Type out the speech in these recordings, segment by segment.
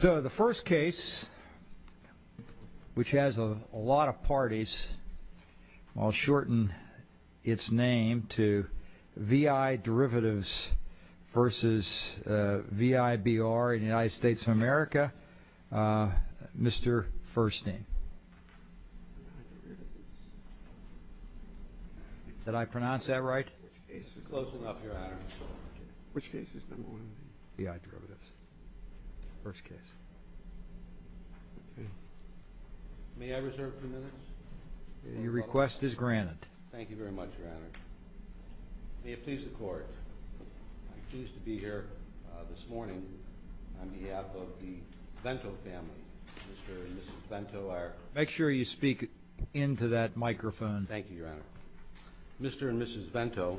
So the first case, which has a lot of parties, I'll shorten its name to VI Derivatives versus VIBR in the United States of America. Mr. Firstname. Did I pronounce that right? Close enough, Your Honor. Which case is number one? VI Derivatives. First case. May I reserve a few minutes? Your request is granted. Thank you very much, Your Honor. May it please the Court, I'm pleased to be here this morning on behalf of the Vento family, Mr. and Mrs. Vento. Make sure you speak into that microphone. Thank you, Your Honor. Mr. and Mrs. Vento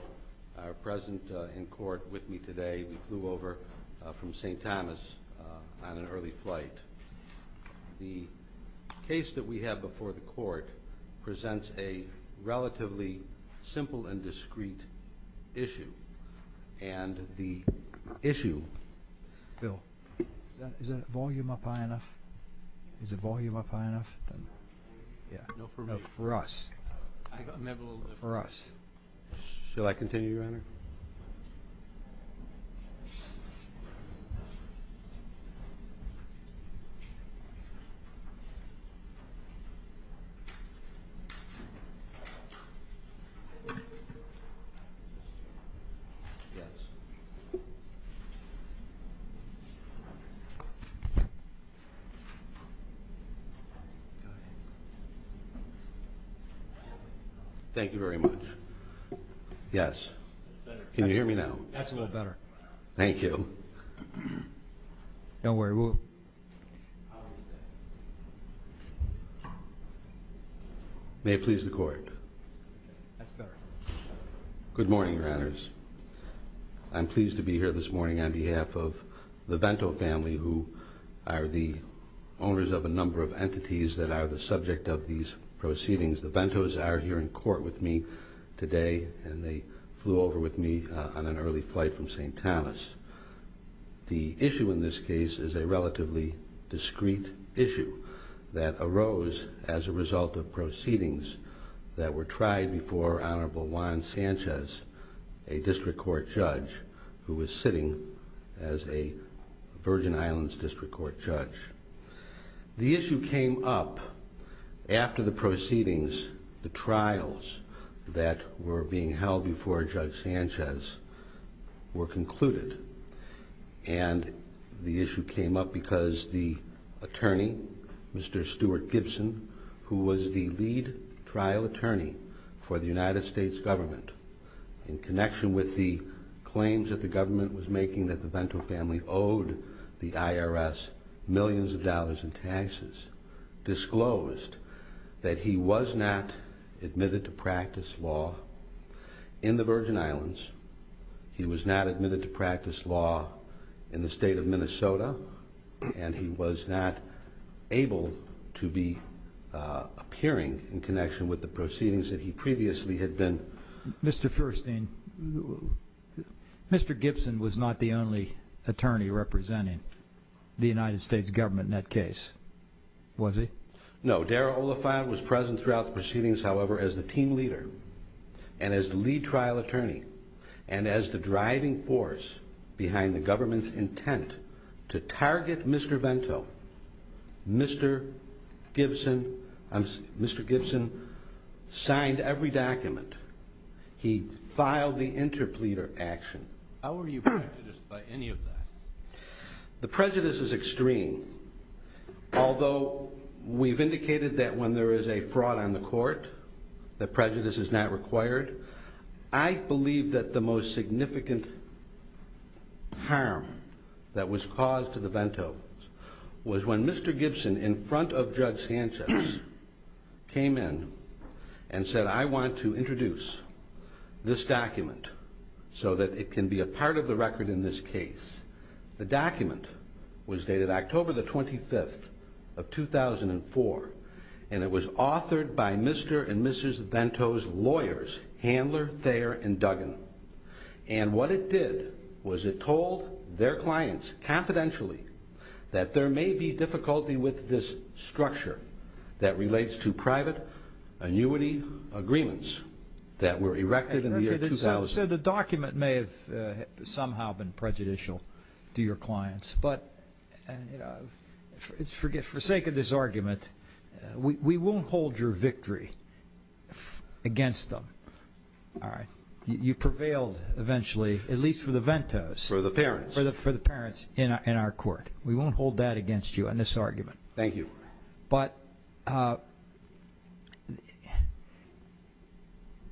are present in court with me today. We flew over from St. Thomas on an early flight. The case that we have before the Court presents a relatively simple and discreet issue, and the issue... Bill, is the volume up high enough? Is the volume up high enough? For us. For us. Shall I continue, Your Honor? Thank you very much. Yes. Can you hear me now? That's a little better. Thank you. Don't worry, we'll... May it please the Court. That's better. Good morning, Your Honors. I'm pleased to be here this morning on behalf of the Vento family, who are the owners of a number of entities that are the subject of these proceedings. The Ventos are here in court with me today, and they flew over with me on an early flight from St. Thomas. The issue in this case is a relatively discreet issue that arose as a result of proceedings that were tried before Honorable Juan Sanchez, a district court judge, who was sitting as a Virgin Islands district court judge. The issue came up after the proceedings, the trials that were being held before Judge Sanchez were concluded. And the issue came up because the attorney, Mr. Stuart Gibson, who was the lead trial attorney for the United States government, in connection with the claims that the government was making that the Vento family owed the IRS millions of dollars in taxes, disclosed that he was not admitted to practice law in the Virgin Islands. He was not admitted to practice law in the state of Minnesota, and he was not able to be appearing in connection with the proceedings that he previously had been... Mr. Furstein, Mr. Gibson was not the only attorney representing the United States government in that case, was he? No. Darrell Oliphant was present throughout the proceedings, however, as the team leader, and as the lead trial attorney, and as the driving force behind the government's intent to target Mr. Vento. Mr. Gibson signed every document. He filed the interpleader action. How are you prejudiced by any of that? The prejudice is extreme. Although we've indicated that when there is a fraud on the court, that prejudice is not required, I believe that the most significant harm that was caused to the Ventos was when Mr. Gibson, in front of Judge Sanchez, came in and said, I want to introduce this document so that it can be a part of the record in this case. The document was dated October the 25th of 2004, and it was authored by Mr. and Mrs. Vento's lawyers, Handler, Thayer, and Duggan. And what it did was it told their clients, confidentially, that there may be difficulty with this structure that relates to private annuity agreements that were erected in the year 2000. You said the document may have somehow been prejudicial to your clients, but for sake of this argument, we won't hold your victory against them. You prevailed, eventually, at least for the Ventos. For the parents. For the parents in our court. We won't hold that against you on this argument. Thank you. But,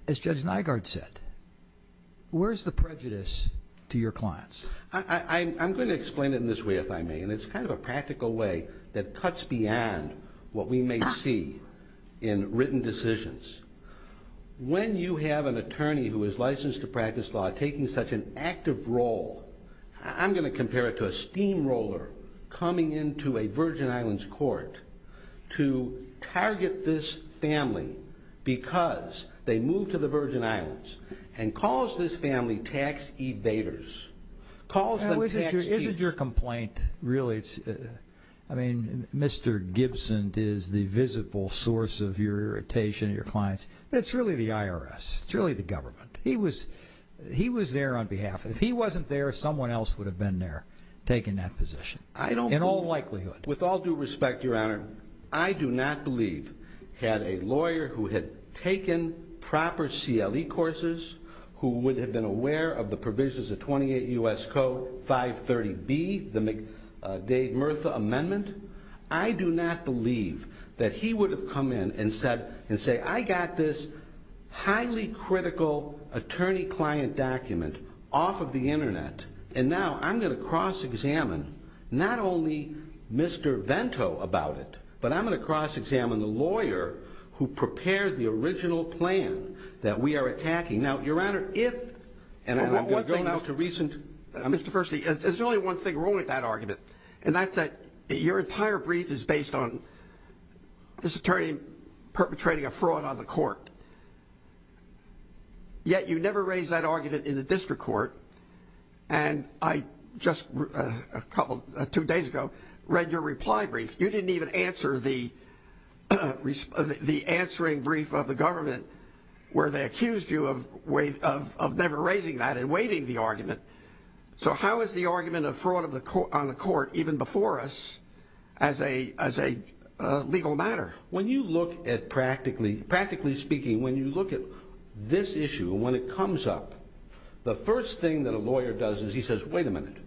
as Judge Nygaard said, where's the prejudice to your clients? I'm going to explain it in this way, if I may, and it's kind of a practical way that cuts beyond what we may see in written decisions. When you have an attorney who is licensed to practice law taking such an active role, I'm going to compare it to a steamroller coming into a Virgin Islands court to target this family because they moved to the Virgin Islands and calls this family tax evaders. Calls them tax thieves. Isn't your complaint really, I mean, Mr. Gibson is the visible source of your irritation to your clients, but it's really the IRS. It's really the government. He was there on behalf. If he wasn't there, someone else would have been there taking that position. In all likelihood. With all due respect, Your Honor, I do not believe, had a lawyer who had taken proper CLE courses, who would have been aware of the provisions of 28 U.S. Code 530B, the Dave Murtha Amendment, I do not believe that he would have come in and said, I got this highly critical attorney-client document off of the Internet, and now I'm going to cross-examine not only Mr. Vento about it, but I'm going to cross-examine the lawyer who prepared the original plan that we are attacking. Now, Your Honor, if, and I've been going out to recent. Mr. Fersley, there's only one thing wrong with that argument, and that's that your entire brief is based on this attorney perpetrating a fraud on the court. Yet you never raised that argument in the district court, and I just a couple, two days ago, read your reply brief. You didn't even answer the answering brief of the government where they accused you of never raising that and waiving the argument. So how is the argument of fraud on the court, even before us, as a legal matter? When you look at practically speaking, when you look at this issue, when it comes up, the first thing that a lawyer does is he says, wait a minute,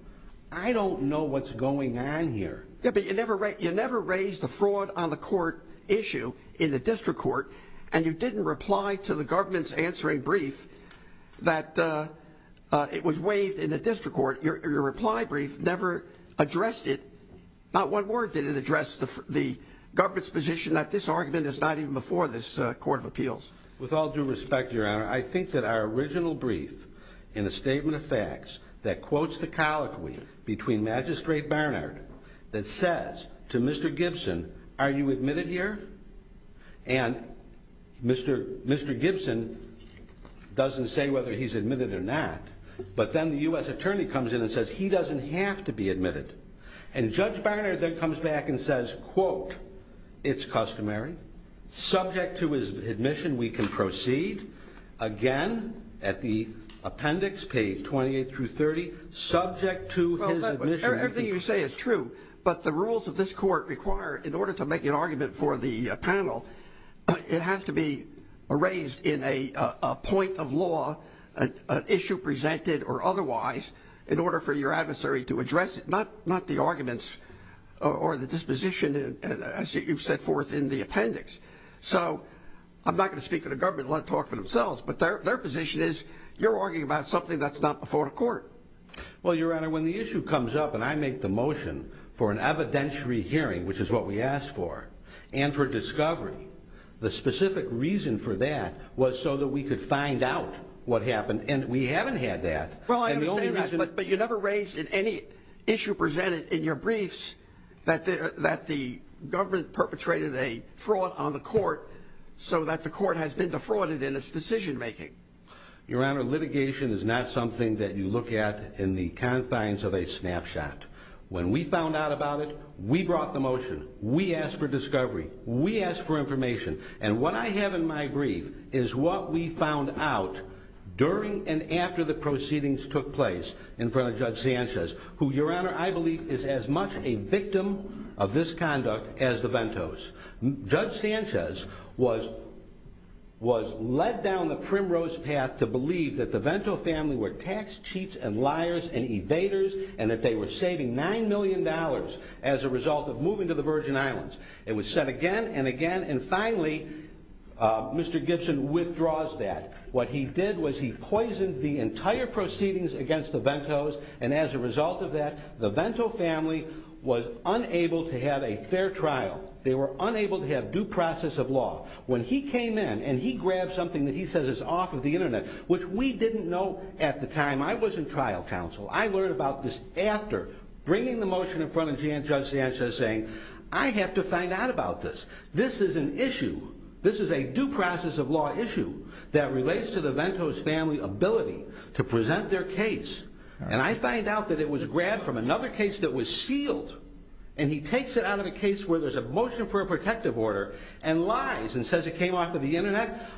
I don't know what's going on here. Yeah, but you never raised the fraud on the court issue in the district court, and you didn't reply to the government's answering brief that it was waived in the district court. Your reply brief never addressed it. Not one word did it address the government's position that this argument is not even before this court of appeals. With all due respect, Your Honor, I think that our original brief in a statement of facts that quotes the colloquy between Magistrate Barnard that says to Mr. Gibson, are you admitted here? And Mr. Gibson doesn't say whether he's admitted or not, but then the U.S. attorney comes in and says he doesn't have to be admitted. And Judge Barnard then comes back and says, quote, it's customary. Subject to his admission, we can proceed. Again, at the appendix, page 28 through 30, subject to his admission. Everything you say is true, but the rules of this court require, in order to make an argument for the panel, it has to be raised in a point of law, an issue presented or otherwise, in order for your adversary to address it, not the arguments or the disposition as you've set forth in the appendix. So I'm not going to speak for the government, let them talk for themselves, but their position is you're arguing about something that's not before the court. Well, Your Honor, when the issue comes up and I make the motion for an evidentiary hearing, which is what we asked for, and for discovery, the specific reason for that was so that we could find out what happened, and we haven't had that. Well, I understand that, but you never raised in any issue presented in your briefs that the government perpetrated a fraud on the court so that the court has been defrauded in its decision making. Your Honor, litigation is not something that you look at in the confines of a snapshot. When we found out about it, we brought the motion, we asked for discovery, we asked for information, and what I have in my brief is what we found out during and after the proceedings took place in front of Judge Sanchez, who, Your Honor, I believe is as much a victim of this conduct as the Ventos. Judge Sanchez was led down the primrose path to believe that the Vento family were tax cheats and liars and evaders and that they were saving $9 million as a result of moving to the Virgin Islands. It was said again and again, and finally, Mr. Gibson withdraws that. What he did was he poisoned the entire proceedings against the Ventos, and as a result of that, the Vento family was unable to have a fair trial. They were unable to have due process of law. When he came in and he grabbed something that he says is off of the internet, which we didn't know at the time. I was in trial counsel. I learned about this after bringing the motion in front of Judge Sanchez saying, I have to find out about this. This is an issue. This is a due process of law issue that relates to the Ventos family ability to present their case, and I find out that it was grabbed from another case that was sealed, and he takes it out of the case where there's a motion for a protective order and lies and says it came off of the internet,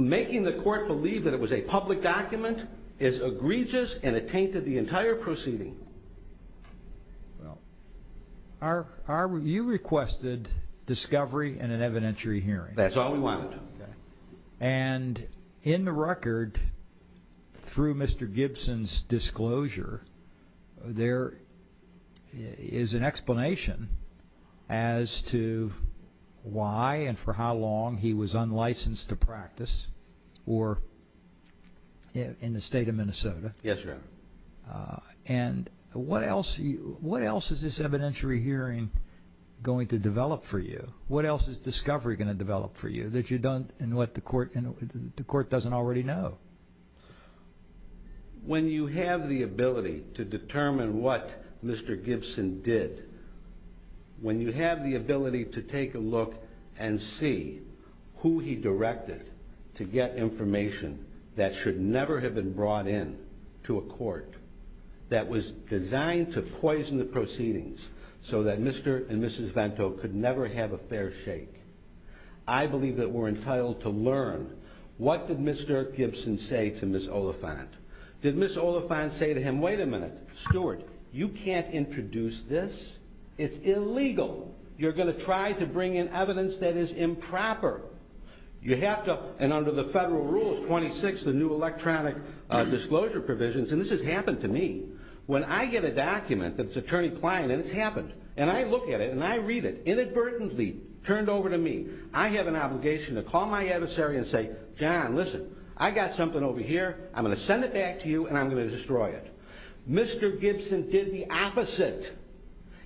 making the court believe that it was a public document is egregious and it tainted the entire proceeding. Well, you requested discovery and an evidentiary hearing. That's all we wanted. And in the record, through Mr. Gibson's disclosure, there is an explanation as to why and for how long he was unlicensed to practice or in the state of Minnesota. And what else? What else is this evidentiary hearing going to develop for you? What else is discovery going to develop for you that you don't and what the court and the court doesn't already know? When you have the ability to determine what Mr. Gibson did, when you have the ability to take a look and see who he directed to get information that should never have been brought in to a court that was designed to poison the proceedings so that Mr. and Mrs. Vento could never have a fair shake. I believe that we're entitled to learn. What did Mr. Gibson say to Ms. Oliphant? Did Ms. Oliphant say to him, wait a minute, Stuart, you can't introduce this. It's illegal. You're going to try to bring in evidence that is improper. You have to, and under the federal rules, 26, the new electronic disclosure provisions, and this has happened to me. When I get a document that's attorney client, and it's happened, and I look at it and I read it, inadvertently turned over to me. I have an obligation to call my adversary and say, John, listen, I got something over here. I'm going to send it back to you, and I'm going to destroy it. Mr. Gibson did the opposite.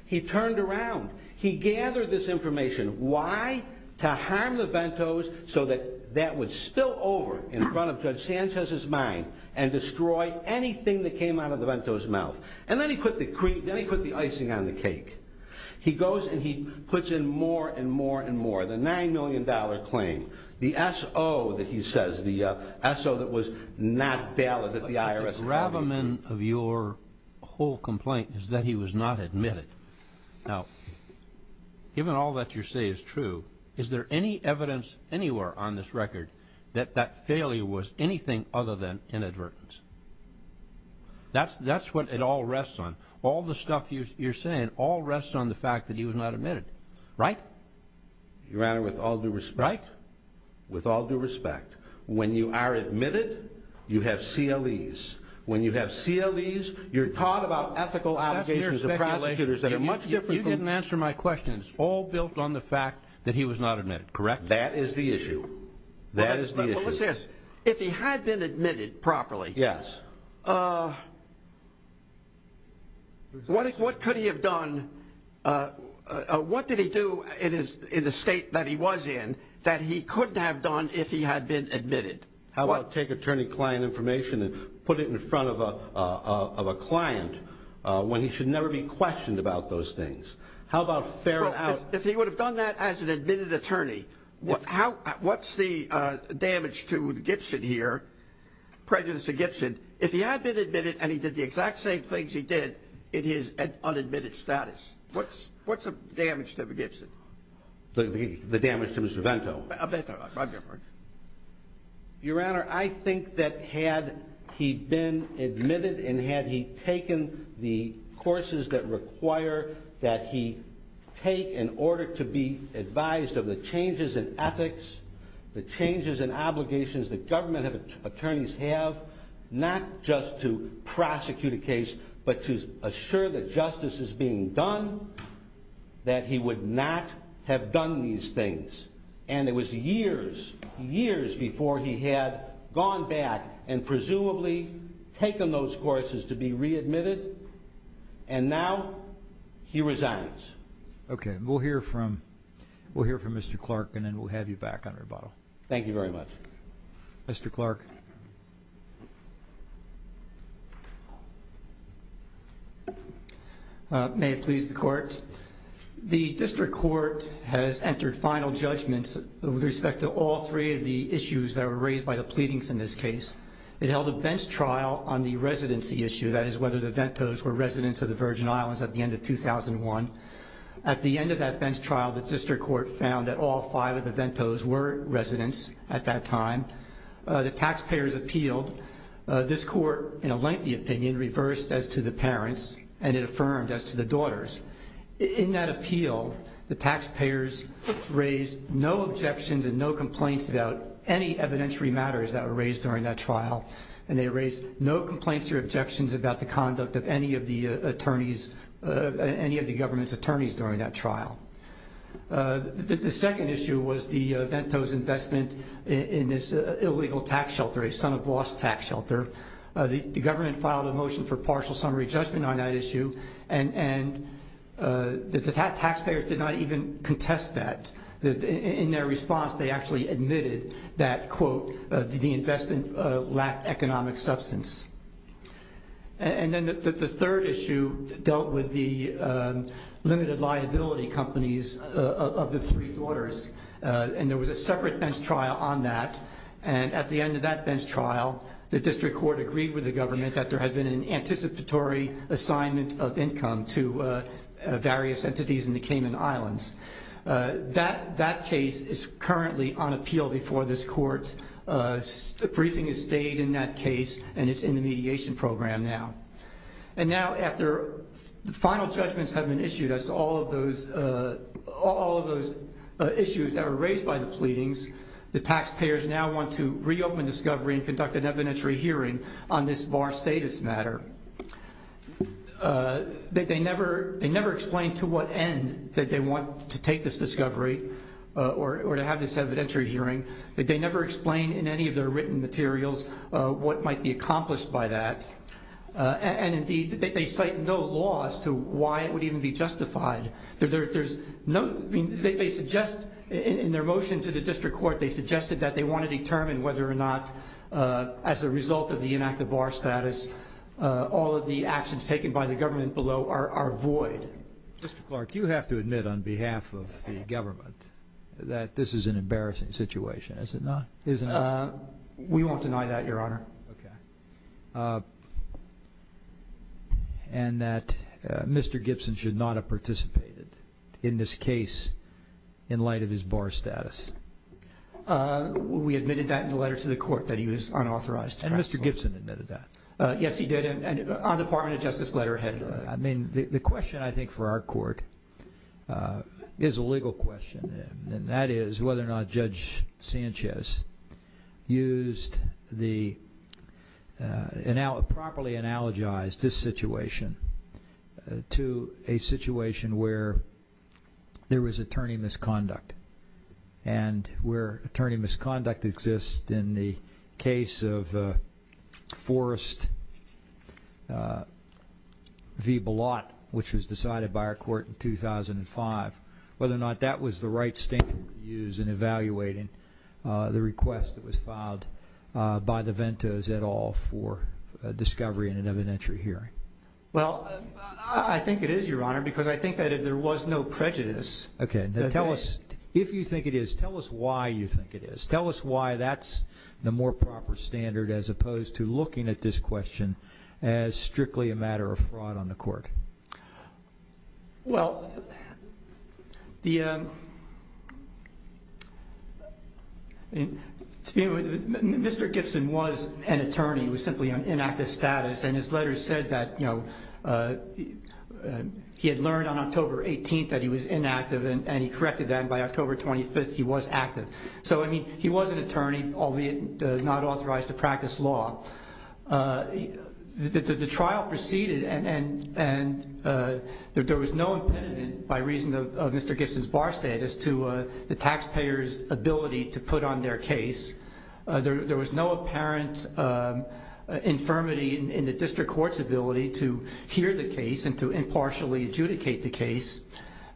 He turned around. He gathered this information. Why? To harm the Ventos so that that would spill over in front of Judge Sanchez's mind and destroy anything that came out of the Ventos' mouth. And then he put the cream, then he put the icing on the cake. He goes and he puts in more and more and more. The $9 million claim. The SO that he says, the SO that was not valid at the IRS. The gravamen of your whole complaint is that he was not admitted. Now, given all that you say is true, is there any evidence anywhere on this record that that failure was anything other than inadvertence? That's what it all rests on. All the stuff you're saying all rests on the fact that he was not admitted. Right? Your Honor, with all due respect. Right? With all due respect, when you are admitted, you have CLEs. When you have CLEs, you're taught about ethical obligations of prosecutors that are much different. You didn't answer my question. It's all built on the fact that he was not admitted. Correct? That is the issue. That is the issue. What's this? If he had been admitted properly. Yes. What could he have done? What did he do in the state that he was in that he couldn't have done if he had been admitted? How about take attorney-client information and put it in front of a client when he should never be questioned about those things? How about fair it out? Well, if he would have done that as an admitted attorney, what's the damage to Gibson here, prejudice to Gibson, if he had been admitted and he did the exact same things he did in his unadmitted status? What's the damage to Gibson? The damage to Mr. Vento. Your Honor, I think that had he been admitted and had he taken the courses that require that he take in order to be advised of the changes in ethics, the changes in obligations that government attorneys have, not just to prosecute a case but to assure that justice is being done, that he would not have done these things. And it was years, years before he had gone back and presumably taken those courses to be readmitted. And now he resigns. Okay. We'll hear from Mr. Clark and then we'll have you back on rebuttal. Thank you very much. Mr. Clark. May it please the Court. The district court has entered final judgments with respect to all three of the issues that were raised by the pleadings in this case. It held a bench trial on the residency issue, that is whether the Ventos were residents of the Virgin Islands at the end of 2001. At the end of that bench trial, the district court found that all five of the Ventos were residents at that time. The taxpayers appealed. This court, in a lengthy opinion, reversed as to the parents and it affirmed as to the daughters. In that appeal, the taxpayers raised no objections and no complaints about any evidentiary matters that were raised during that trial, and they raised no complaints or objections about the conduct of any of the attorneys, any of the government's attorneys during that trial. The second issue was the Ventos investment in this illegal tax shelter, a son-of-loss tax shelter. The government filed a motion for partial summary judgment on that issue, and the taxpayers did not even contest that. In their response, they actually admitted that, quote, the investment lacked economic substance. And then the third issue dealt with the limited liability companies of the three daughters, and there was a separate bench trial on that, and at the end of that bench trial, the district court agreed with the government that there had been an anticipatory assignment of income to various entities in the Cayman Islands. That case is currently on appeal before this court. A briefing is stayed in that case, and it's in the mediation program now. And now after the final judgments have been issued as to all of those issues that were raised by the pleadings, the taxpayers now want to reopen discovery and conduct an evidentiary hearing on this bar status matter. They never explained to what end that they want to take this discovery or to have this evidentiary hearing. They never explained in any of their written materials what might be accomplished by that. And indeed, they cite no law as to why it would even be justified. There's no, I mean, they suggest in their motion to the district court, they suggested that they want to determine whether or not as a result of the inactive bar status, all of the actions taken by the government below are void. Mr. Clark, you have to admit on behalf of the government that this is an embarrassing situation, is it not? We won't deny that, Your Honor. Okay. And that Mr. Gibson should not have participated in this case in light of his bar status. We admitted that in the letter to the court, that he was unauthorized. And Mr. Gibson admitted that? Yes, he did, and on the Department of Justice letter. Go ahead. I mean, the question I think for our court is a legal question, and that is whether or not Judge Sanchez used the, properly analogized this situation to a situation where there was attorney misconduct, and where attorney misconduct exists in the case of Forrest v. Balot, which was decided by our court in 2005, whether or not that was the right statement to use in evaluating the request that was filed by the Ventos et al. for discovery in an evidentiary hearing. Well, I think it is, Your Honor, because I think that if there was no prejudice, Okay, now tell us, if you think it is, tell us why you think it is. Tell us why that's the more proper standard as opposed to looking at this question as strictly a matter of fraud on the court. Well, Mr. Gibson was an attorney. He was simply on inactive status, and his letter said that he had learned on October 18th that he was inactive, and he corrected that, and by October 25th he was active. So, I mean, he was an attorney, albeit not authorized to practice law. The trial proceeded, and there was no impediment by reason of Mr. Gibson's bar status to the taxpayer's ability to put on their case. There was no apparent infirmity in the district court's ability to hear the case and to impartially adjudicate the case.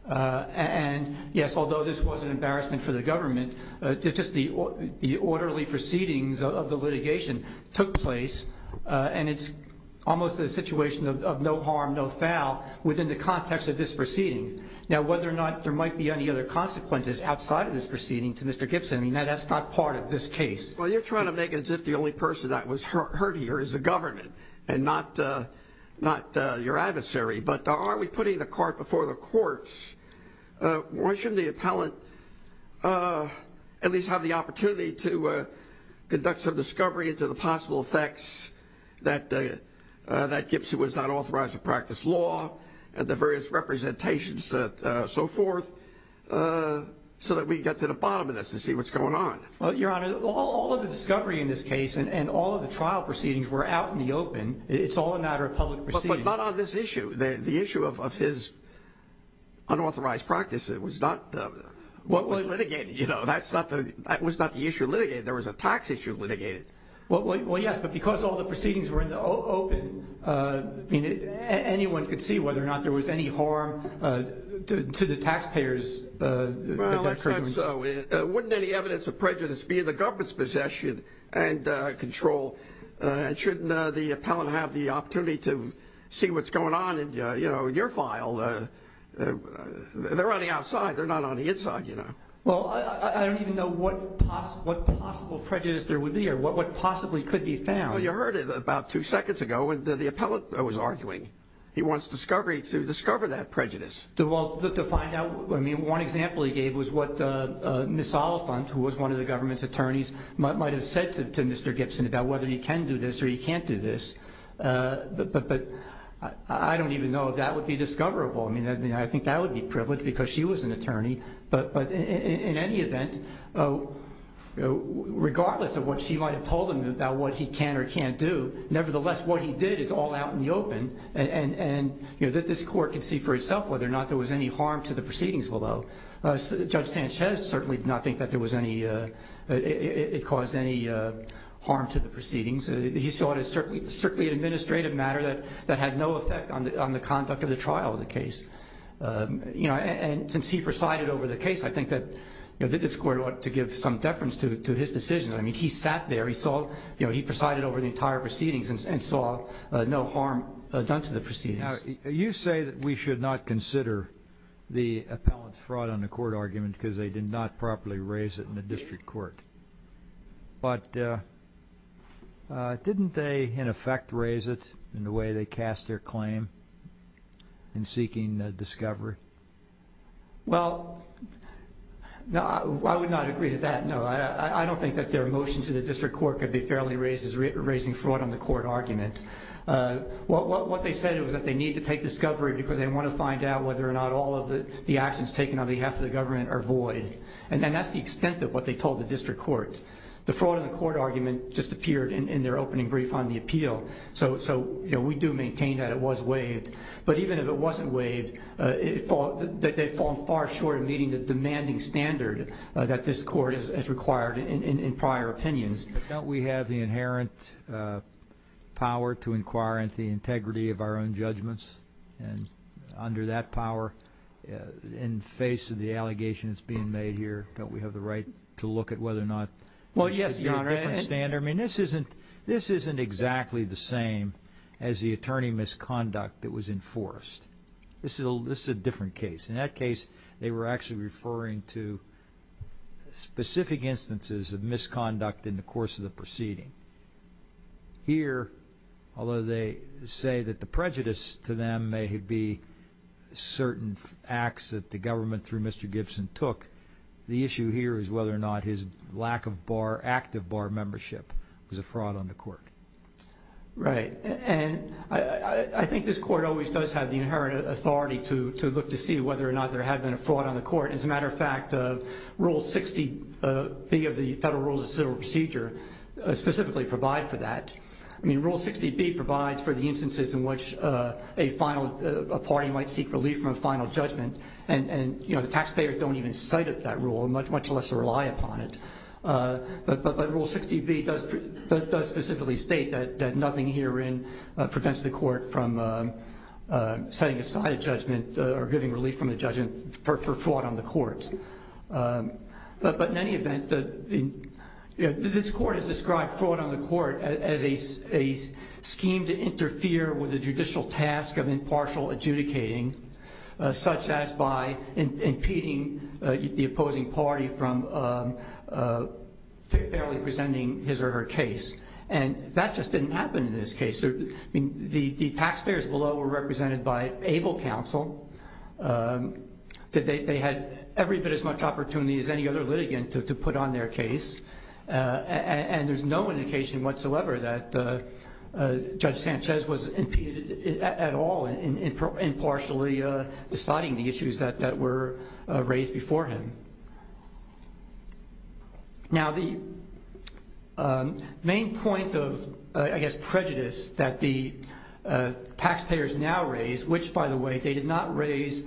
And, yes, although this was an embarrassment for the government, just the orderly proceedings of the litigation took place, and it's almost a situation of no harm, no foul within the context of this proceeding. Now, whether or not there might be any other consequences outside of this proceeding to Mr. Gibson, that's not part of this case. Well, you're trying to make it as if the only person that was hurt here is the government and not your adversary, but are we putting the cart before the courts? Why shouldn't the appellant at least have the opportunity to conduct some discovery into the possible effects that Gibson was not authorized to practice law and the various representations and so forth so that we can get to the bottom of this and see what's going on? Well, Your Honor, all of the discovery in this case and all of the trial proceedings were out in the open. It's all a matter of public proceedings. But not on this issue. The issue of his unauthorized practice was not the issue litigated. There was a tax issue litigated. I mean, anyone could see whether or not there was any harm to the taxpayers. Well, that's not so. Wouldn't any evidence of prejudice be in the government's possession and control? And shouldn't the appellant have the opportunity to see what's going on in your file? They're on the outside. They're not on the inside, you know. Well, I don't even know what possible prejudice there would be or what possibly could be found. Well, you heard it about two seconds ago when the appellant was arguing. He wants discovery to discover that prejudice. Well, to find out. I mean, one example he gave was what Ms. Oliphant, who was one of the government's attorneys, might have said to Mr. Gibson about whether he can do this or he can't do this. But I don't even know if that would be discoverable. I mean, I think that would be privileged because she was an attorney. But in any event, regardless of what she might have told him about what he can or can't do, nevertheless what he did is all out in the open. And this court can see for itself whether or not there was any harm to the proceedings below. Judge Sanchez certainly did not think that it caused any harm to the proceedings. He saw it as strictly an administrative matter that had no effect on the conduct of the trial of the case. And since he presided over the case, I think that this court ought to give some deference to his decision. I mean, he sat there. He presided over the entire proceedings and saw no harm done to the proceedings. You say that we should not consider the appellant's fraud on the court argument because they did not properly raise it in the district court. But didn't they, in effect, raise it in the way they cast their claim in seeking discovery? Well, I would not agree to that, no. I don't think that their motion to the district court could be fairly raised as raising fraud on the court argument. What they said was that they need to take discovery because they want to find out whether or not all of the actions taken on behalf of the government are void. And that's the extent of what they told the district court. The fraud on the court argument just appeared in their opening brief on the appeal. So we do maintain that it was waived. But even if it wasn't waived, they've fallen far short of meeting the demanding standard that this court has required in prior opinions. Don't we have the inherent power to inquire into the integrity of our own judgments? And under that power, in face of the allegation that's being made here, don't we have the right to look at whether or not this should be a different standard? Well, yes, Your Honor. I mean, this isn't exactly the same as the attorney misconduct that was enforced. This is a different case. In that case, they were actually referring to specific instances of misconduct in the course of the proceeding. Here, although they say that the prejudice to them may be certain acts that the government through Mr. Gibson took, the issue here is whether or not his lack of active bar membership was a fraud on the court. Right. And I think this court always does have the inherent authority to look to see whether or not there had been a fraud on the court. As a matter of fact, Rule 60B of the Federal Rules of Civil Procedure specifically provide for that. I mean, Rule 60B provides for the instances in which a party might seek relief from a final judgment, and the taxpayers don't even cite it, that rule, much less rely upon it. But Rule 60B does specifically state that nothing herein prevents the court from setting aside a judgment or getting relief from a judgment for fraud on the court. But in any event, this court has described fraud on the court as a scheme to interfere with the judicial task of impartial adjudicating, such as by impeding the opposing party from fairly presenting his or her case. And that just didn't happen in this case. The taxpayers below were represented by ABLE counsel. They had every bit as much opportunity as any other litigant to put on their case, and there's no indication whatsoever that Judge Sanchez was impeded at all in impartially deciding the issues that were raised before him. Now, the main point of, I guess, prejudice that the taxpayers now raise, which, by the way, they did not raise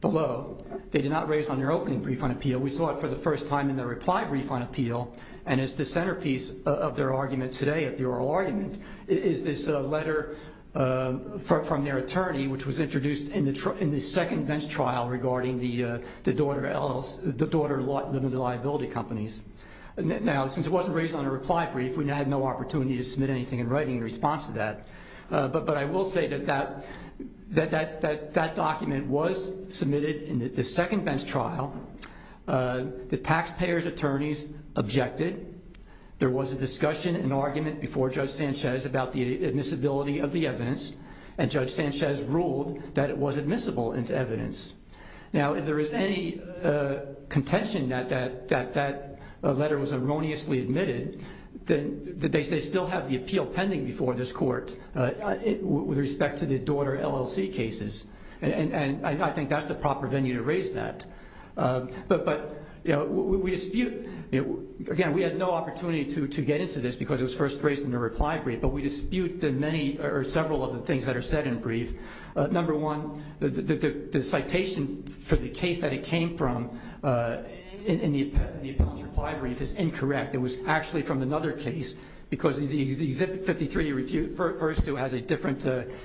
below. They did not raise on their opening brief on appeal. We saw it for the first time in their reply brief on appeal, and it's the centerpiece of their argument today at the oral argument is this letter from their attorney, which was introduced in the second bench trial regarding the daughter liability companies. Now, since it wasn't raised on a reply brief, we had no opportunity to submit anything in writing in response to that. But I will say that that document was submitted in the second bench trial. The taxpayers' attorneys objected. There was a discussion and argument before Judge Sanchez about the admissibility of the evidence, and Judge Sanchez ruled that it was admissible as evidence. Now, if there is any contention that that letter was erroneously admitted, they still have the appeal pending before this court with respect to the daughter LLC cases, and I think that's the proper venue to raise that. But we dispute, again, we had no opportunity to get into this because it was first raised in the reply brief, but we dispute several of the things that are said in brief. Number one, the citation for the case that it came from in the appellant's reply brief is incorrect. It was actually from another case because the Exhibit 53, verse 2, has a different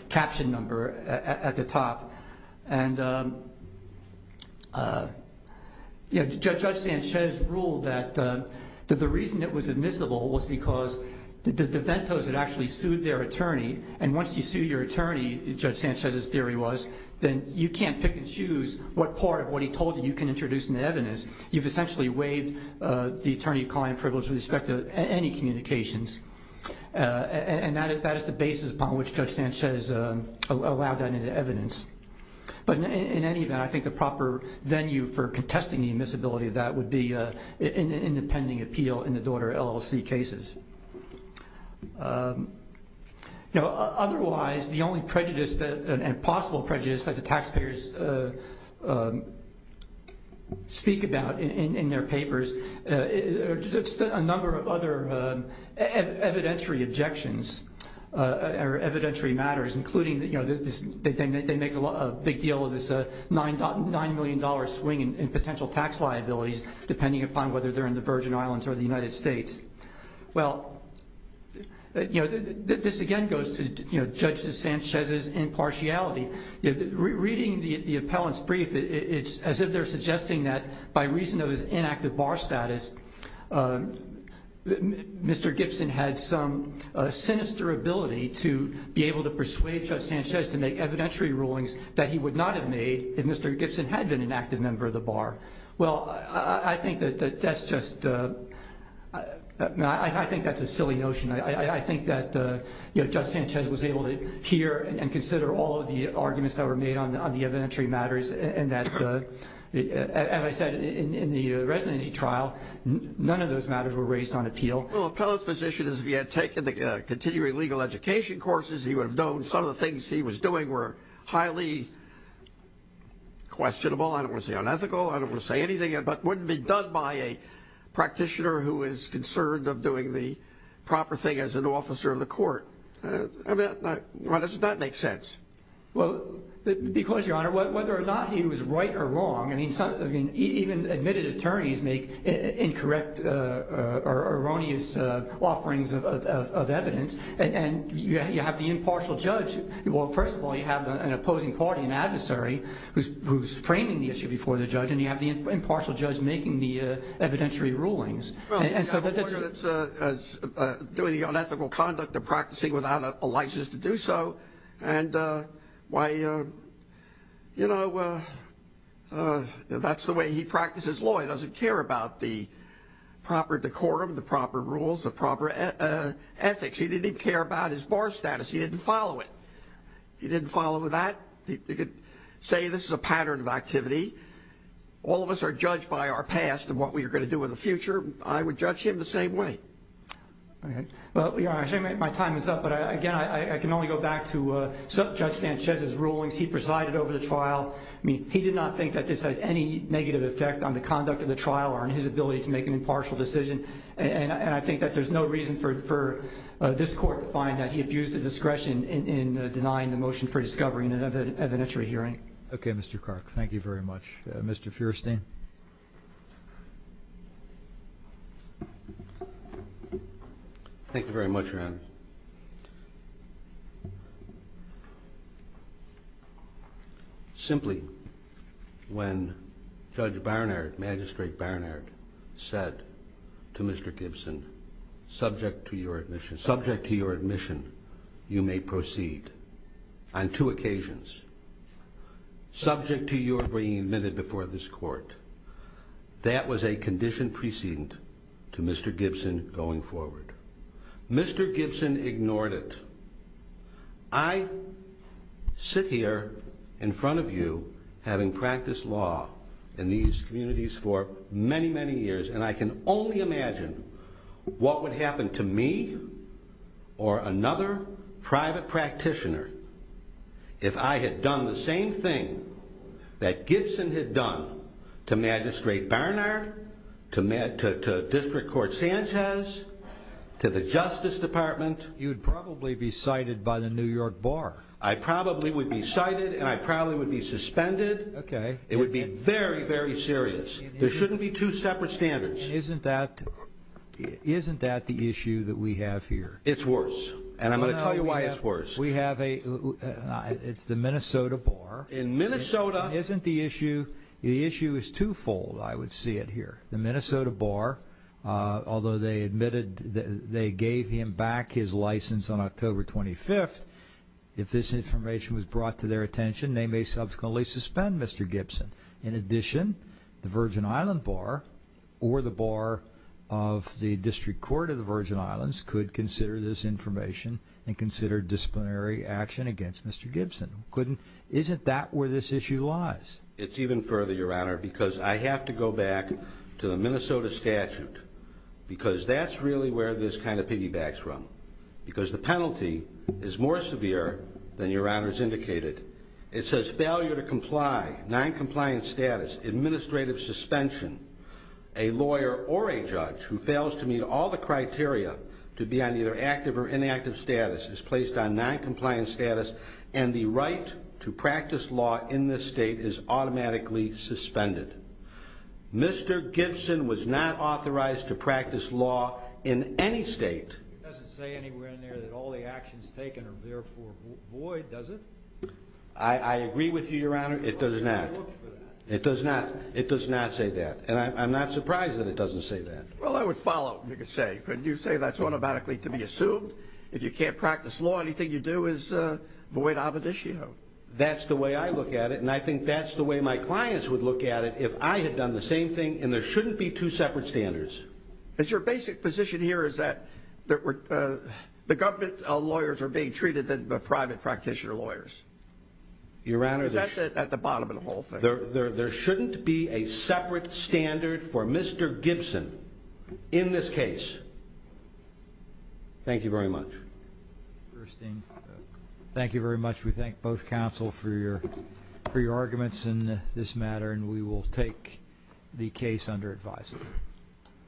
caption number at the top. And Judge Sanchez ruled that the reason it was admissible was because the DeVentos had actually sued their attorney, and once you sue your attorney, Judge Sanchez's theory was, then you can't pick and choose what part of what he told you you can introduce in the evidence. You've essentially waived the attorney client privilege with respect to any communications. And that is the basis upon which Judge Sanchez allowed that into evidence. But in any event, I think the proper venue for contesting the admissibility of that would be an independent appeal in the daughter LLC cases. Otherwise, the only prejudice and possible prejudice that the taxpayers speak about in their papers, just a number of other evidentiary objections or evidentiary matters, including that they make a big deal of this $9 million swing in potential tax liabilities, depending upon whether they're in the Virgin Islands or the United States. Well, this again goes to Judge Sanchez's impartiality. Reading the appellant's brief, it's as if they're suggesting that by reason of his inactive bar status, Mr. Gibson had some sinister ability to be able to persuade Judge Sanchez to make evidentiary rulings that he would not have made if Mr. Gibson had been an active member of the bar. Well, I think that that's just, I think that's a silly notion. I think that Judge Sanchez was able to hear and consider all of the arguments that were made on the evidentiary matters and that, as I said, in the residency trial, none of those matters were raised on appeal. Well, the appellant's position is if he had taken the continuing legal education courses, he would have known some of the things he was doing were highly questionable. I don't want to say unethical. I don't want to say anything. But it wouldn't be done by a practitioner who is concerned of doing the proper thing as an officer in the court. Why doesn't that make sense? Well, because, Your Honor, whether or not he was right or wrong, I mean, even admitted attorneys make incorrect or erroneous offerings of evidence, and you have the impartial judge. Well, first of all, you have an opposing party, an adversary, who's framing the issue before the judge, and you have the impartial judge making the evidentiary rulings. Well, Your Honor, that's doing the unethical conduct of practicing without a license to do so, and why, you know, that's the way he practices law. He doesn't care about the proper decorum, the proper rules, the proper ethics. He didn't even care about his bar status. He didn't follow it. He didn't follow that. You could say this is a pattern of activity. All of us are judged by our past and what we are going to do in the future. I would judge him the same way. Well, Your Honor, my time is up, but, again, I can only go back to Judge Sanchez's rulings. He presided over the trial. I mean, he did not think that this had any negative effect on the conduct of the trial or on his ability to make an impartial decision, and I think that there's no reason for this Court to find that he abused his discretion in denying the motion for discovery in an evidentiary hearing. Okay, Mr. Clark, thank you very much. Mr. Feuerstein. Thank you very much, Your Honor. Simply, when Judge Barnard, Magistrate Barnard, said to Mr. Gibson, subject to your admission, subject to your admission, you may proceed, on two occasions. Subject to your being admitted before this Court, that was a condition precedent to Mr. Gibson going forward. Mr. Gibson ignored it. I sit here in front of you, having practiced law in these communities for many, many years, and I can only imagine what would happen to me or another private practitioner if I had done the same thing that Gibson had done to Magistrate Barnard, to District Court Sanchez, to the Justice Department. You'd probably be cited by the New York Bar. I probably would be cited, and I probably would be suspended. Okay. It would be very, very serious. There shouldn't be two separate standards. Isn't that the issue that we have here? It's worse, and I'm going to tell you why it's worse. We have a, it's the Minnesota Bar. In Minnesota. Isn't the issue, the issue is twofold, I would see it here. The Minnesota Bar, although they admitted they gave him back his license on October 25th, if this information was brought to their attention, they may subsequently suspend Mr. Gibson. In addition, the Virgin Island Bar or the Bar of the District Court of the Virgin Islands could consider this information and consider disciplinary action against Mr. Gibson. Isn't that where this issue lies? It's even further, Your Honor, because I have to go back to the Minnesota statute, because that's really where this kind of piggybacks from, because the penalty is more severe than Your Honor has indicated. It says failure to comply, noncompliant status, administrative suspension. A lawyer or a judge who fails to meet all the criteria to be on either active or inactive status is placed on noncompliant status, and the right to practice law in this state is automatically suspended. Mr. Gibson was not authorized to practice law in any state. It doesn't say anywhere in there that all the actions taken are therefore void, does it? I agree with you, Your Honor, it does not. It does not. It does not say that. And I'm not surprised that it doesn't say that. Well, I would follow, you could say. Couldn't you say that's automatically to be assumed? If you can't practice law, anything you do is void aboditio. That's the way I look at it, and I think that's the way my clients would look at it if I had done the same thing and there shouldn't be two separate standards. Your basic position here is that the government lawyers are being treated as private practitioner lawyers. Your Honor, there shouldn't be a separate standard for Mr. Gibson in this case. Thank you very much. Thank you very much. We thank both counsel for your arguments in this matter, and we will take the case under advisory.